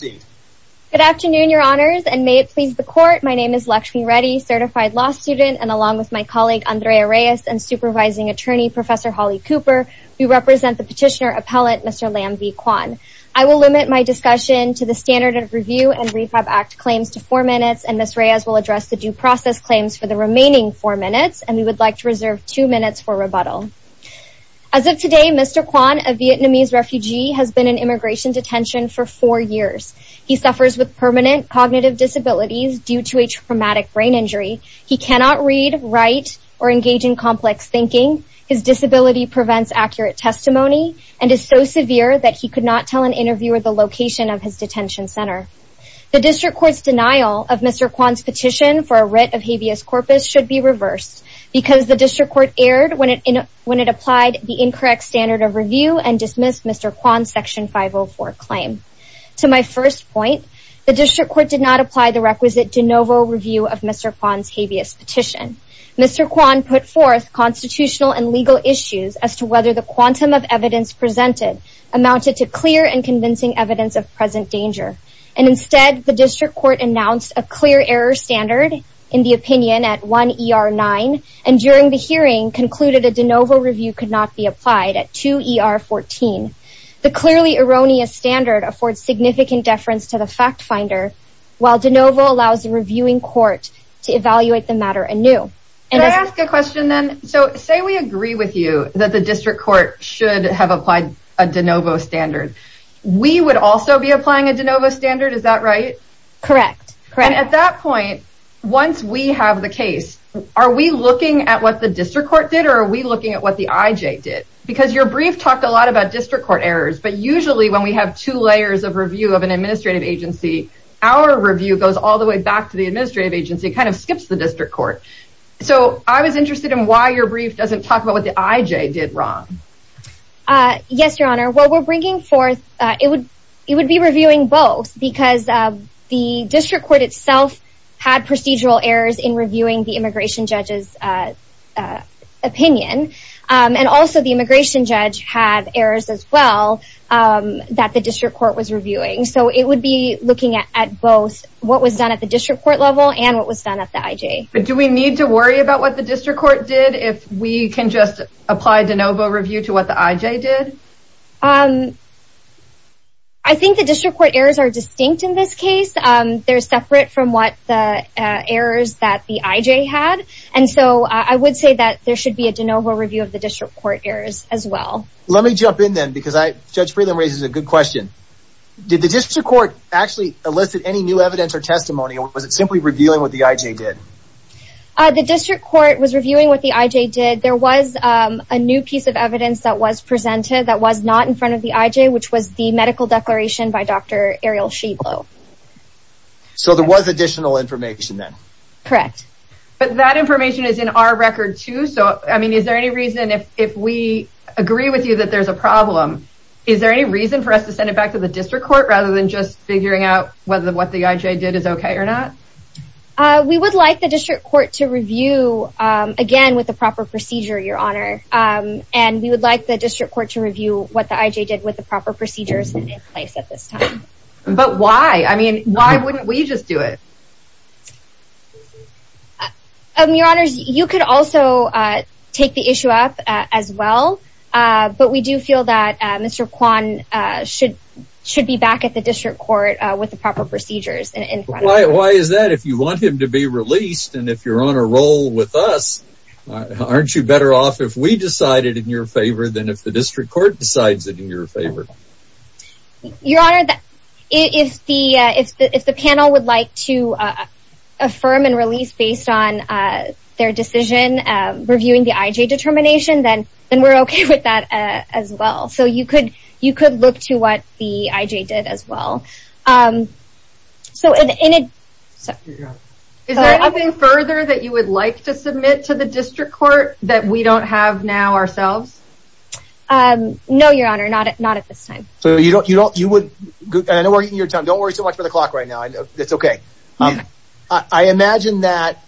Good afternoon, your honors, and may it please the court, my name is Lakshmi Reddy, certified law student, and along with my colleague Andrea Reyes and supervising attorney Professor Holly Cooper, we represent the petitioner appellate Mr. Lam V. Quan. I will limit my discussion to the standard of review and Refab Act claims to four minutes, and Ms. Reyes will address the due process claims for the remaining four minutes, and we would like to reserve two minutes for rebuttal. As of today, Mr. Quan, a Vietnamese refugee, has been in immigration detention for four years. He suffers with permanent cognitive disabilities due to a traumatic brain injury. He cannot read, write, or engage in complex thinking. His disability prevents accurate testimony and is so severe that he could not tell an interviewer the location of his detention center. The district court's denial of Mr. Quan's petition for a writ of habeas corpus should be reversed because the district court erred when it applied the incorrect standard of review and dismissed Mr. Quan's Section 504 claim. To my first point, the district court did not apply the requisite de novo review of Mr. Quan's habeas petition. Mr. Quan put forth constitutional and legal issues as to whether the quantum of evidence presented amounted to clear and convincing evidence of present danger, and instead the district court announced a clear error standard in the opinion at 1 ER 9, and during the hearing concluded a de novo review could not be applied at 2 ER 14. The clearly erroneous standard affords significant deference to the fact finder, while de novo allows the reviewing court to evaluate the matter anew. Can I ask a question then? So say we agree with you that the district court should have applied a de novo standard. We would also be applying a de novo standard, is that right? Correct. And at that point, once we have the case, are we looking at what the district court did or are we looking at what the IJ did? Because your brief talked a lot about district court errors, but usually when we have two layers of review of an administrative agency, our review goes all the way back to the administrative agency, it kind of skips the district court. So I was interested in why your brief doesn't talk about what the IJ did wrong. Yes, Your Honor. What we're bringing forth, it would be reviewing both because the district court itself had procedural errors in reviewing the immigration judge's opinion, and also the immigration judge had errors as well that the district court was reviewing. So it would be looking at both what was done at the district court level and what was done at the IJ. Do we need to worry about what the district court did if we can just apply de novo review to what the IJ did? I think the district court errors are distinct in this case. They're separate from what the errors that the IJ had, and so I would say that there should be a de novo review of the district court errors as well. Let me jump in then because Judge Friedland raises a good question. Did the district court actually elicit any new evidence or testimony or was it simply reviewing what the IJ did? The district court was reviewing what the IJ did. There was a new piece of evidence that was presented that was not in front of the IJ, which was the medical declaration by Dr. Ariel Shieblo. So there was additional information then? Correct. But that information is in our record too, so I mean is there any reason if we agree with you that there's a problem, is there any reason for us to send it back to the district court rather than just figuring out whether what the IJ did is okay or not? We would like the district court to review again with the proper procedure, Your Honor, and we would like the procedures in place at this time. But why? I mean, why wouldn't we just do it? Your Honor, you could also take the issue up as well, but we do feel that Mr. Kwan should be back at the district court with the proper procedures. Why is that? If you want him to be released and if you're on a roll with us, aren't you better off if we decide it in your favor than if the district court decides it in your favor? Your Honor, if the panel would like to affirm and release based on their decision reviewing the IJ determination, then we're okay with that as well. So you could look to what the IJ did as well. Is there anything further that you would like to submit to the district court that we don't have now ourselves? No, Your Honor, not at this time. So you don't, you would, I know we're eating your time, don't worry so much for the clock right now, it's okay. I imagine that,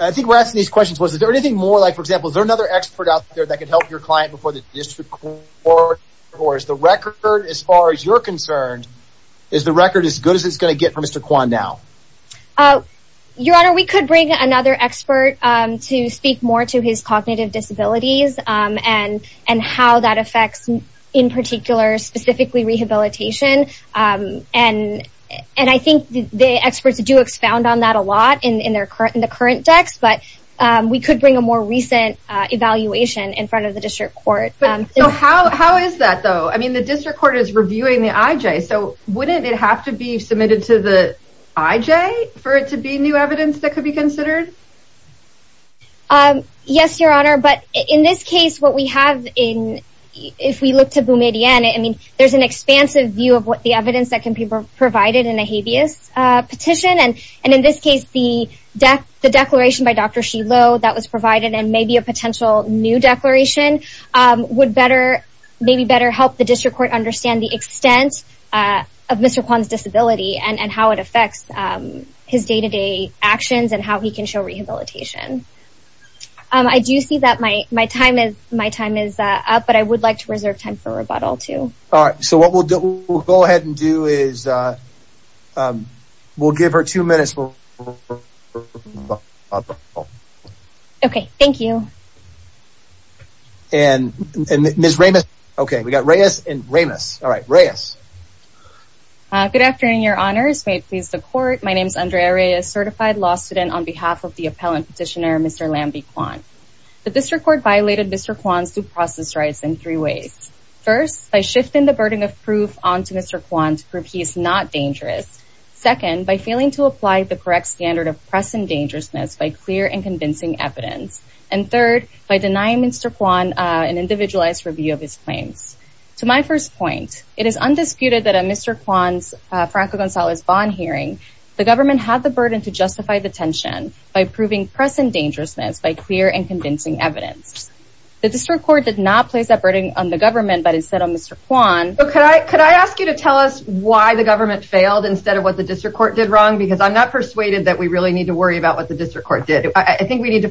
I think we're asking these questions, was there anything more, like for example, is there another expert out there that could help your client before the district court, or is the record as far as you're concerned, is the record as good as it's gonna get for Mr. Kwan now? Your Honor, we could bring another expert to speak more to his cognitive disabilities and how that affects, in particular, specifically rehabilitation, and I think the experts do expound on that a lot in the current decks, but we could bring a more recent evaluation in front of the district court. So how is that though? I mean the district court is reviewing the IJ for it to be new evidence that could be considered? Yes, Your Honor, but in this case what we have in, if we look to Boumediene, I mean there's an expansive view of what the evidence that can be provided in a habeas petition, and in this case the declaration by Dr. Shiloh that was provided, and maybe a potential new declaration, would better, maybe better help the district court understand the extent of Mr. Kwan's disability and how it affects his day-to-day actions and how he can show rehabilitation. I do see that my time is up, but I would like to reserve time for rebuttal too. All right, so what we'll do, we'll go ahead and do is, we'll give her two minutes. Okay, thank you. All right, Reyes. Good afternoon, Your Honors. May it please the court, my name is Andrea Reyes, certified law student on behalf of the appellant petitioner, Mr. Lambie Kwan. The district court violated Mr. Kwan's due process rights in three ways. First, by shifting the burden of proof onto Mr. Kwan to prove he is not dangerous. Second, by failing to apply the correct standard of press and dangerousness by clear and convincing evidence. And third, by denying Mr. Kwan an individualized review of his claims. To my first point, it is undisputed that at Mr. Kwan's Franco Gonzalez bond hearing, the government had the burden to justify the tension by proving press and dangerousness by clear and convincing evidence. The district court did not place that burden on the government, but instead on Mr. Kwan. Okay, could I ask you to tell us why the government failed instead of what the district court did wrong? Because I'm not persuaded that we really need to worry about what the district court did. I think we need to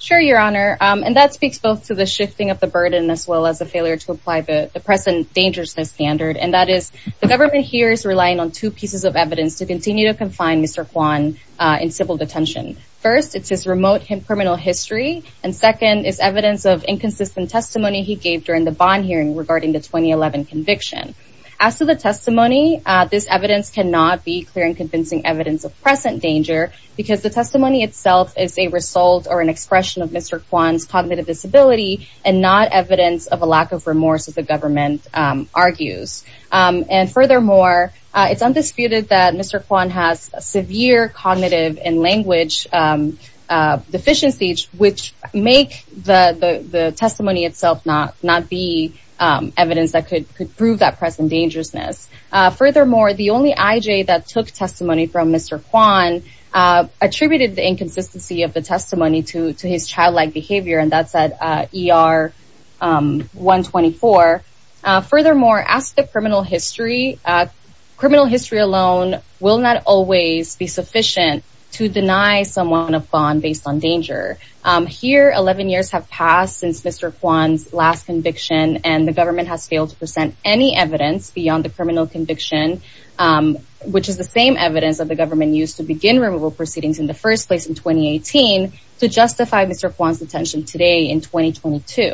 Sure, your honor. And that speaks both to the shifting of the burden as well as a failure to apply the press and dangerousness standard. And that is, the government here is relying on two pieces of evidence to continue to confine Mr. Kwan in civil detention. First, it's his remote and criminal history, and second is evidence of inconsistent testimony he gave during the bond hearing regarding the 2011 conviction. As to the testimony, this evidence cannot be clear and convincing evidence of present danger because the testimony itself is a result or an expression of Mr. Kwan's cognitive disability, and not evidence of a lack of remorse, as the government argues. And furthermore, it's undisputed that Mr. Kwan has severe cognitive and language deficiencies, which make the testimony itself not be evidence that could prove that press and dangerousness. Furthermore, the only IJ that took testimony from Mr. Kwan attributed the inconsistency of the testimony to his childlike behavior, and that's at ER 124. Furthermore, as to the criminal history, criminal history alone will not always be sufficient to deny someone a bond based on danger. Here, 11 years have passed since Mr. Kwan's last conviction, and the government has failed to present any evidence beyond the criminal conviction, which is the same evidence that the government used in 2018 to justify Mr. Kwan's detention today in 2022.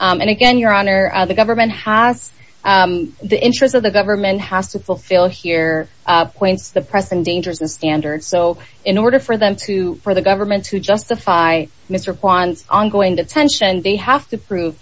And again, Your Honor, the government has, the interest of the government has to fulfill here points to the press and dangerousness standard. So in order for them to, for the government to justify Mr. Kwan's ongoing detention, they have to prove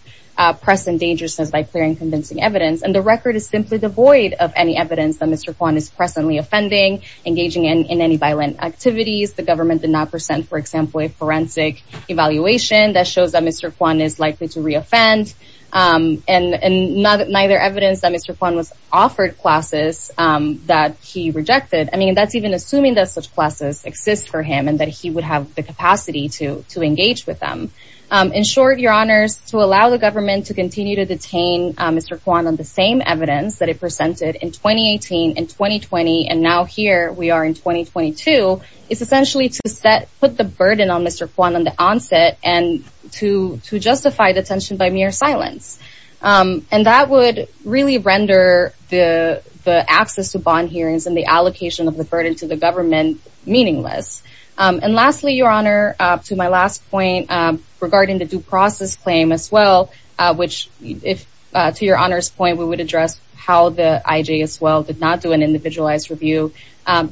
press and dangerousness by clearing convincing evidence, and the record is simply devoid of any evidence that Mr. Kwan is presently offending, engaging in any violent activities. The government did not present, for example, a forensic evaluation that shows that Mr. Kwan is likely to reoffend, and neither evidence that Mr. Kwan was offered classes that he rejected. I mean, that's even assuming that such classes exist for him and that he would have the capacity to engage with them. In short, Your Honors, to allow the government to continue to detain Mr. Kwan on the same evidence that it presented in 2018 and 2020, and now here we are in 2022, is essentially to put the burden on Mr. Kwan on the onset and to justify detention by mere silence. And that would really render the access to bond hearings and the allocation of the burden to the government meaningless. And lastly, Your Honor, to my last point, regarding the due process claim as well, which, to Your Honor's point, we would address how the IJ as well did not do an individualized review.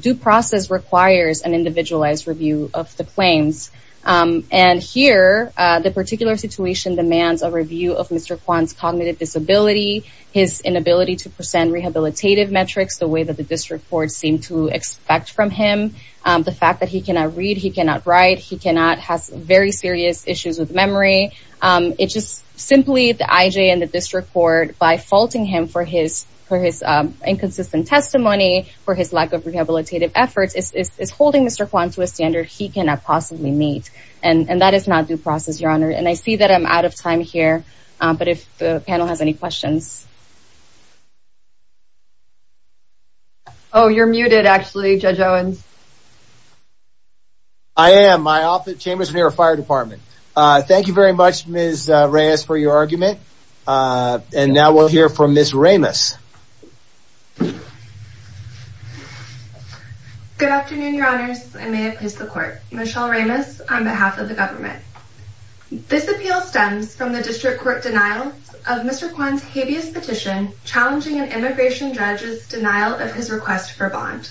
Due process requires an individualized review of the claims. And here, the particular situation demands a review of Mr. Kwan's cognitive disability, his inability to present rehabilitative metrics the way that the district court seemed to expect from him, the fact that he cannot read, he cannot write, he cannot have very serious issues with memory. It's just simply the IJ and by faulting him for his inconsistent testimony, for his lack of rehabilitative efforts, is holding Mr. Kwan to a standard he cannot possibly meet. And that is not due process, Your Honor. And I see that I'm out of time here, but if the panel has any questions. Oh, you're muted actually, Judge Owens. I am. My office, Chambers of the Fire Department. Thank you very much, Ms. Reyes, for your argument. And now we'll hear from Ms. Ramos. Good afternoon, Your Honors. I may have missed the court. Michelle Ramos on behalf of the government. This appeal stems from the district court denial of Mr. Kwan's habeas petition challenging an immigration judge's denial of his request for bond.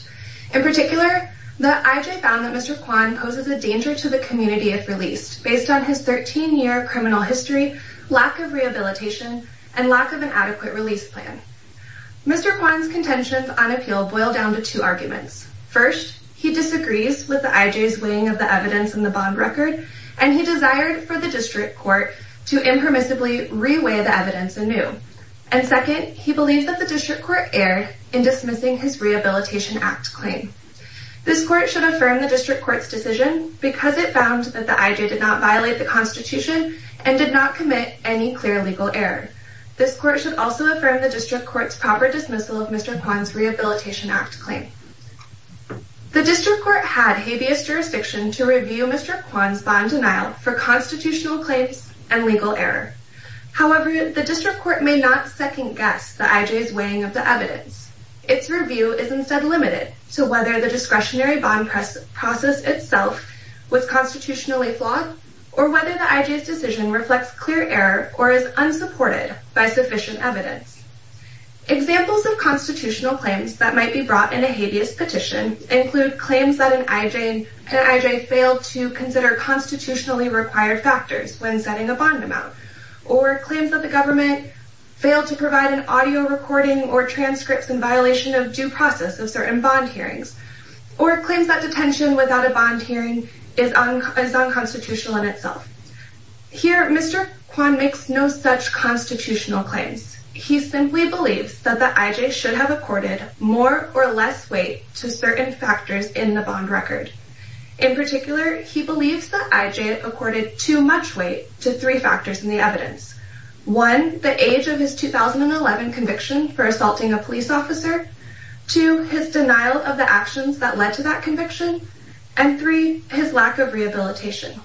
In particular, the IJ found that Mr. Kwan poses a danger to the community if released based on his 13-year criminal history, lack of rehabilitation, and lack of an adequate release plan. Mr. Kwan's contentions on appeal boil down to two arguments. First, he disagrees with the IJ's weighing of the evidence in the bond record, and he desired for the district court to impermissibly re-weigh the evidence anew. And second, he believes that the district court erred in dismissing his district court's decision because it found that the IJ did not violate the Constitution and did not commit any clear legal error. This court should also affirm the district court's proper dismissal of Mr. Kwan's Rehabilitation Act claim. The district court had habeas jurisdiction to review Mr. Kwan's bond denial for constitutional claims and legal error. However, the district court may not second-guess the IJ's weighing of the evidence. Its review is instead limited to whether the discretionary bond process itself was constitutionally flawed, or whether the IJ's decision reflects clear error or is unsupported by sufficient evidence. Examples of constitutional claims that might be brought in a habeas petition include claims that an IJ failed to consider constitutionally required factors when setting a bond amount, or claims that the government failed to provide an audio recording or transcripts of due process of certain bond hearings, or claims that detention without a bond hearing is unconstitutional in itself. Here, Mr. Kwan makes no such constitutional claims. He simply believes that the IJ should have accorded more or less weight to certain factors in the bond record. In particular, he believes the IJ accorded too much weight to three factors in the evidence. One, the age of his 2011 conviction for assaulting a police officer. Two, his denial of the actions that led to that conviction. And three, his lack of rehabilitation.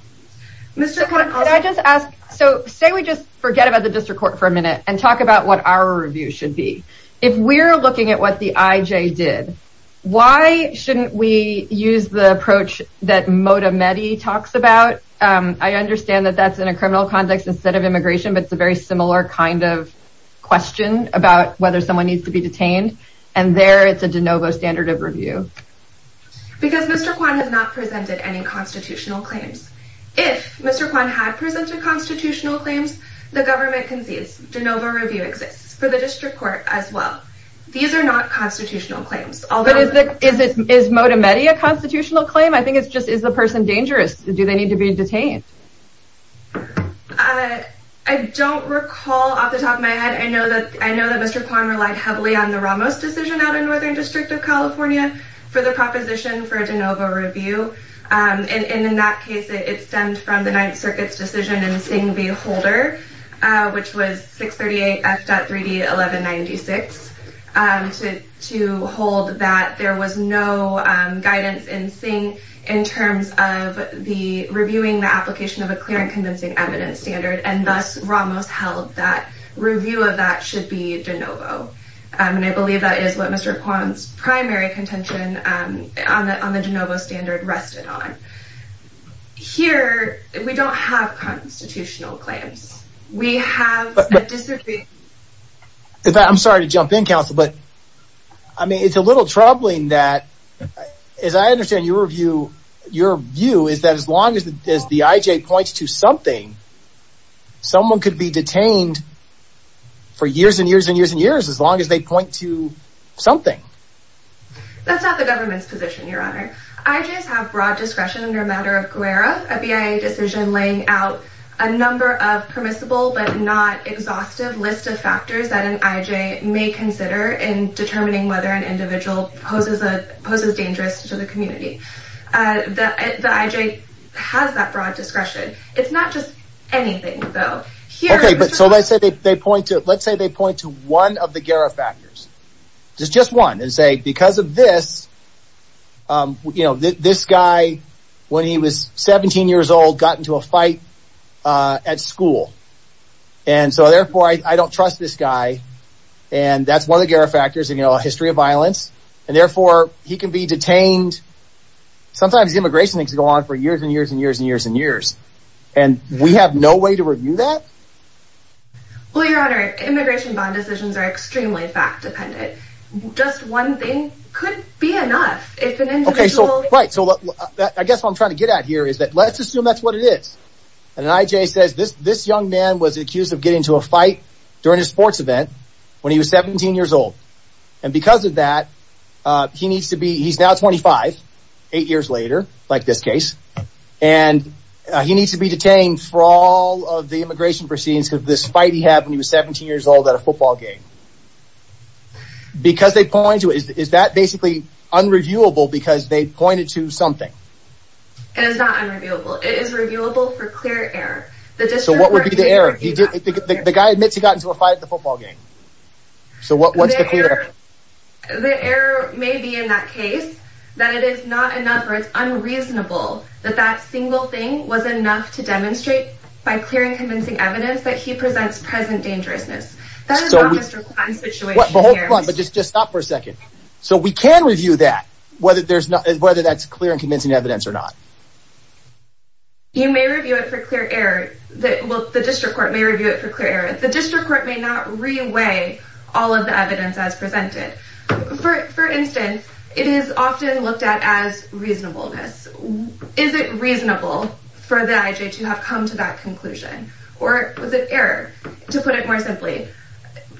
So, say we just forget about the district court for a minute and talk about what our review should be. If we're looking at what the IJ did, why shouldn't we use the approach that Modamedy talks about? I understand that that's in a question about whether someone needs to be detained, and there it's a de novo standard of review. Because Mr. Kwan has not presented any constitutional claims. If Mr. Kwan had presented constitutional claims, the government concedes de novo review exists for the district court as well. These are not constitutional claims. Is Modamedy a constitutional claim? I think it's just, is the person dangerous? Do they need to be detained? I don't recall off the top of my head. I know that Mr. Kwan relied heavily on the Ramos decision out in Northern District of California for the proposition for a de novo review. And in that case, it stemmed from the Ninth Circuit's decision in Singh v. Holder, which was 638 F.3d 1196, to hold that there was no guidance in Singh in terms of the reviewing the application of a clear and convincing evidence standard. And thus, Ramos held that review of that should be de novo. And I believe that is what Mr. Kwan's primary contention on the de novo standard rested on. Here, we don't have constitutional claims. I'm sorry to jump in counsel, but I mean, it's a little troubling that, as I understand your view, your view is that as long as the IJ points to something, someone could be detained for years and years and years and years as long as they point to something. That's not the government's position, your honor. IJs have broad discretion under a matter of Guerra, a BIA decision laying out a number of permissible but not exhaustive list of factors that an IJ may consider in determining whether an individual poses a dangerous to the community. The IJ has that broad discretion. It's not just anything, though. Okay, but so let's say they point to, let's say they point to one of the Guerra factors, just one, and say because of this, you know, this guy, when he was 17 years old, got into a fight at school. And so therefore, I don't trust this guy. And that's one of the Guerra factors, you know, a history of and therefore, he can be detained. Sometimes immigration needs to go on for years and years and years and years and years. And we have no way to review that. Well, your honor, immigration bond decisions are extremely fact dependent. Just one thing could be enough if an individual... Right. So I guess what I'm trying to get at here is that let's assume that's what it is. An IJ says this, this young man was accused of getting into a fight during a football game when he was 17 years old. And because of that, he needs to be, he's now 25, eight years later, like this case, and he needs to be detained for all of the immigration proceedings of this fight he had when he was 17 years old at a football game. Because they point to it, is that basically unreviewable because they pointed to something? It is not unreviewable. It is reviewable for clear error. So what would be the error? The guy admits he got into a fight at the football game. So what's the clear error? The error may be in that case that it is not enough or it's unreasonable that that single thing was enough to demonstrate by clear and convincing evidence that he presents present dangerousness. That is not Mr. Kwan's situation here. Hold on, but just stop for a second. So we can review that, whether there's not, whether that's clear and convincing evidence or not. You may review it for clear error. Well, the district court may review it for clear error. The district court may not reweigh all of the evidence as presented. For instance, it is often looked at as reasonableness. Is it reasonable for the IJ to have come to that conclusion? Or was it error? To put it more simply,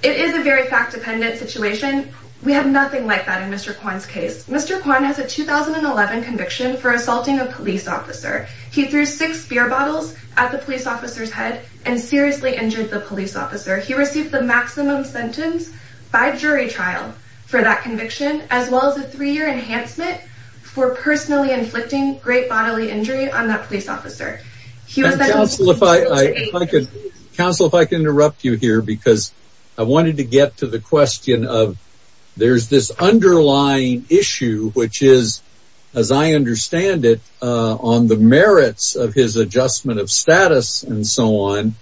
it is a very fact dependent situation. We have nothing like that in Mr. Kwan's case. Mr. Kwan has a 2011 conviction for assaulting a police officer. He threw six beer bottles at the police officer's head and seriously injured the police officer. He received the maximum sentence by jury trial for that conviction, as well as a three year enhancement for personally inflicting great bodily injury on that police officer. He was then... Counsel, if I can interrupt you here, because I wanted to get to the question of there's this underlying issue, which is, as I understand it, on the merits of his adjustment of status and so on.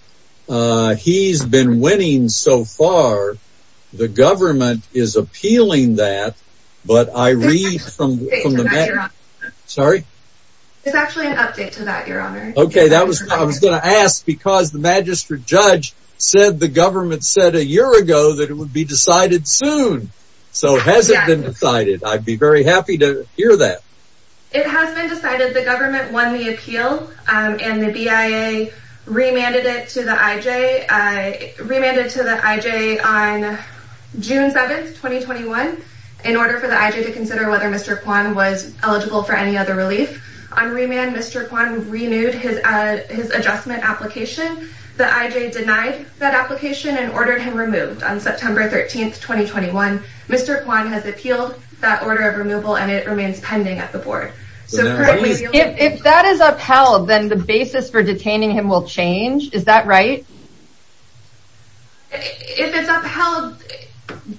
He's been winning so far. The government is appealing that. But I read from... Sorry. It's actually an update to that, Your Honor. OK, that was what I was going to ask, because the magistrate judge said the government said a year ago that it would be decided soon. So has it been decided? I'd be very happy to hear that. It has been decided. The government won the appeal and the BIA remanded it to the IJ, remanded it to the IJ on June 7th, 2021, in order for the IJ to consider whether Mr. Kwan was eligible for any other relief. On remand, Mr. Kwan renewed his adjustment application. The IJ denied that application and ordered him removed on September 13th, 2021. Mr. Kwan has appealed that order of removal and it remains pending at the board. So if that is upheld, then the basis for detaining him will change. Is that right? If it's upheld,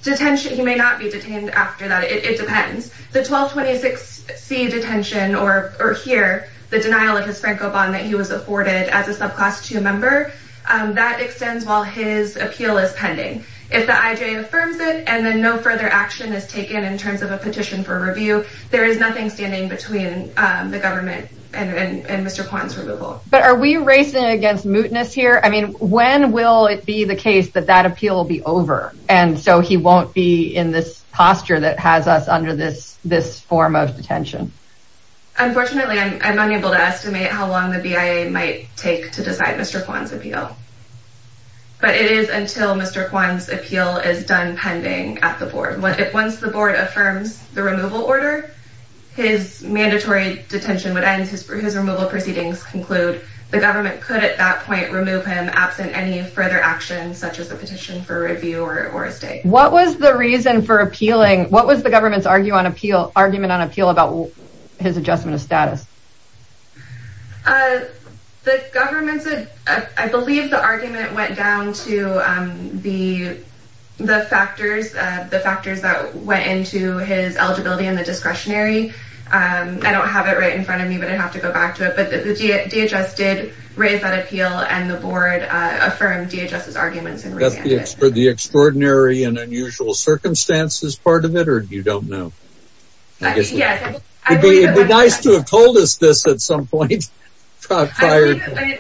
detention, he may not be detained after that. It depends. The 1226C detention or here, the denial of his Franco bond that he was afforded as a subclass two member, that extends while his appeal is pending. If the IJ affirms it and then no further action is taken in terms of a petition for a remand, then that would be between the government and Mr. Kwan's removal. But are we racing against mootness here? I mean, when will it be the case that that appeal will be over? And so he won't be in this posture that has us under this form of detention? Unfortunately, I'm unable to estimate how long the BIA might take to decide Mr. Kwan's appeal. But it is until Mr. Kwan's appeal is done pending at the board. Once the board affirms the removal order, his mandatory detention would end. His removal proceedings conclude the government could at that point remove him absent any further action, such as a petition for review or a state. What was the reason for appealing? What was the government's argument on appeal about his adjustment of status? The government, I believe the argument went down to the the factors, the factors that went into his eligibility and the discretionary. I don't have it right in front of me, but I'd have to go back to it. But the DHS did raise that appeal and the board affirmed DHS's arguments. And that's the extraordinary and unusual circumstances part of it, or you don't know? I guess it would be nice to have told us this at some point. I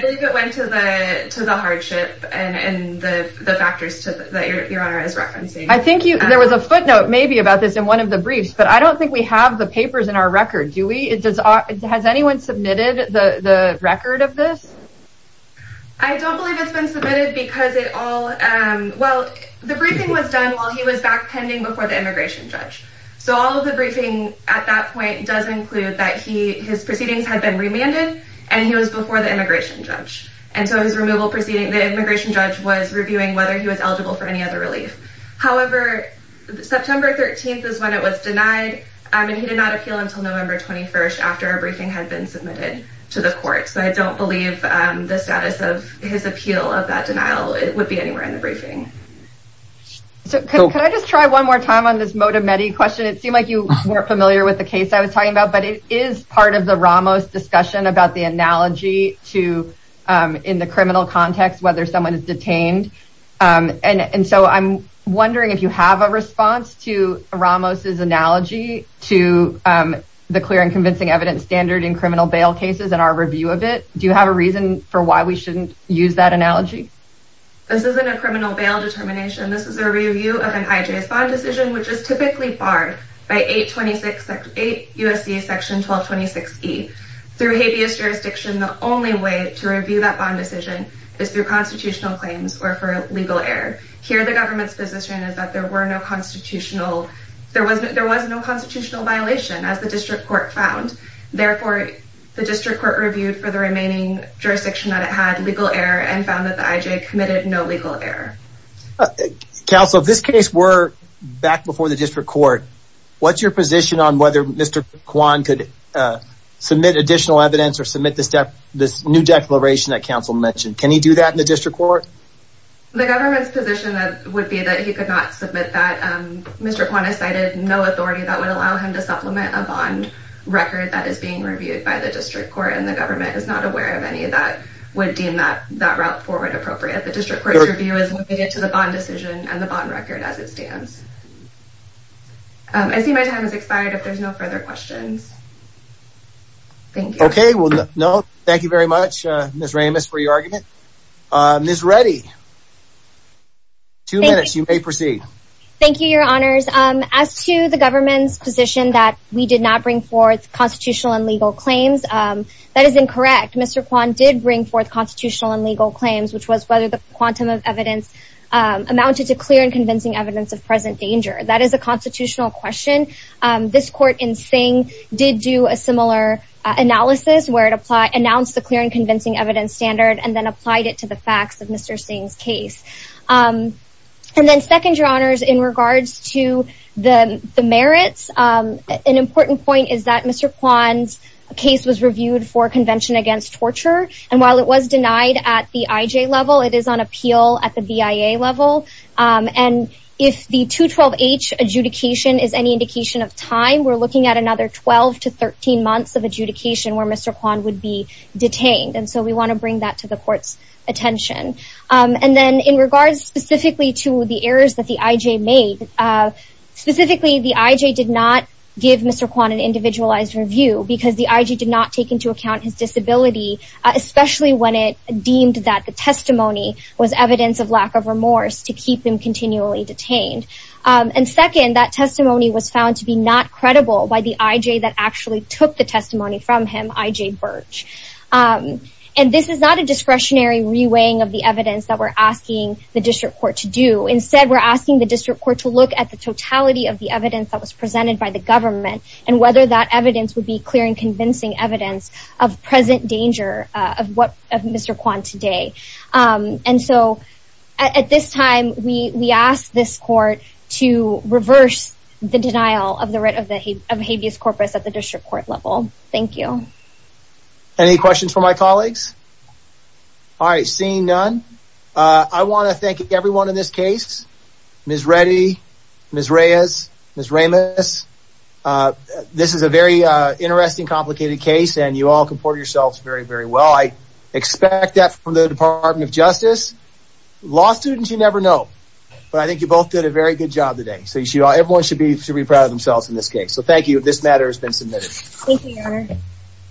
believe it went to the to the hardship and the factors that your honor has I think there was a footnote maybe about this in one of the briefs, but I don't think we have the papers in our record, do we? It does. Has anyone submitted the record of this? I don't believe it's been submitted because it all well, the briefing was done while he was back pending before the immigration judge. So all of the briefing at that point does include that he his proceedings had been remanded and he was before the immigration judge. And so his removal proceeding, the immigration judge was reviewing whether he was eligible for any other relief. However, September 13th is when it was denied and he did not appeal until November 21st after a briefing had been submitted to the court. So I don't believe the status of his appeal of that denial would be anywhere in the briefing. So can I just try one more time on this Modamedy question? It seemed like you weren't familiar with the case I was talking about, but it is part of the Ramos discussion about the analogy to in the criminal context, whether someone is detained. And so I'm wondering if you have a response to Ramos's analogy to the clear and convincing evidence standard in criminal bail cases and our review of it. Do you have a reason for why we shouldn't use that analogy? This isn't a criminal bail determination. This is a review of an IJS bond decision, which is typically barred by 826, 8 U.S.C. section 1226 E through habeas jurisdiction. The only way to review that bond decision is through constitutional claims or for legal error. Here, the government's position is that there was no constitutional violation, as the district court found. Therefore, the district court reviewed for the remaining jurisdiction that it had legal error and found that the IJ committed no legal error. Counsel, this case were back before the district court. What's your position on whether Mr. this new declaration that counsel mentioned? Can he do that in the district court? The government's position would be that he could not submit that Mr. Kwan has cited no authority that would allow him to supplement a bond record that is being reviewed by the district court. And the government is not aware of any of that would deem that that route forward appropriate. The district court's review is limited to the bond decision and the bond record as it stands. I see my time is expired if there's no further questions. OK, well, no. Thank you very much, Ms. Ramis, for your argument. Ms. Reddy. Two minutes, you may proceed. Thank you, your honors. As to the government's position that we did not bring forth constitutional and legal claims, that is incorrect. Mr. Kwan did bring forth constitutional and legal claims, which was whether the quantum of evidence amounted to clear and convincing evidence of present danger. That is a constitutional question. This court in saying did do a similar analysis where it apply announced the clear and convincing evidence standard and then applied it to the facts of Mr. Singh's case. And then second, your honors, in regards to the merits, an important point is that Mr. Kwan's case was reviewed for Convention Against Torture. And while it was denied at the IJ level, it is on appeal at the BIA level. And if the 212H adjudication is any indication of time, we're looking at another 12 to 13 months of adjudication where Mr. Kwan would be detained. And so we want to bring that to the court's attention. And then in regards specifically to the errors that the IJ made, specifically, the IJ did not give Mr. Kwan an individualized review because the IJ did not take into account his disability, especially when it deemed that the testimony was evidence of lack of remorse to keep him continually detained. And second, that testimony was found to be not credible by the IJ that actually took the testimony from him, IJ Birch. And this is not a discretionary reweighing of the evidence that we're asking the district court to do. Instead, we're asking the district court to look at the totality of the evidence that was presented by the government and whether that evidence would be clear and convincing evidence of present danger of what Mr. Kwan today. And so at this time, we ask this court to reverse the denial of the writ of habeas corpus at the district court level. Thank you. Any questions for my colleagues? All right, seeing none, I want to thank everyone in this case, Ms. Reddy, Ms. Reyes, Ms. Kase, and you all comport yourselves very, very well. I expect that from the Department of Justice. Law students, you never know, but I think you both did a very good job today. So you should all everyone should be should be proud of themselves in this case. So thank you. This matter has been submitted. Thank you, Your Honor.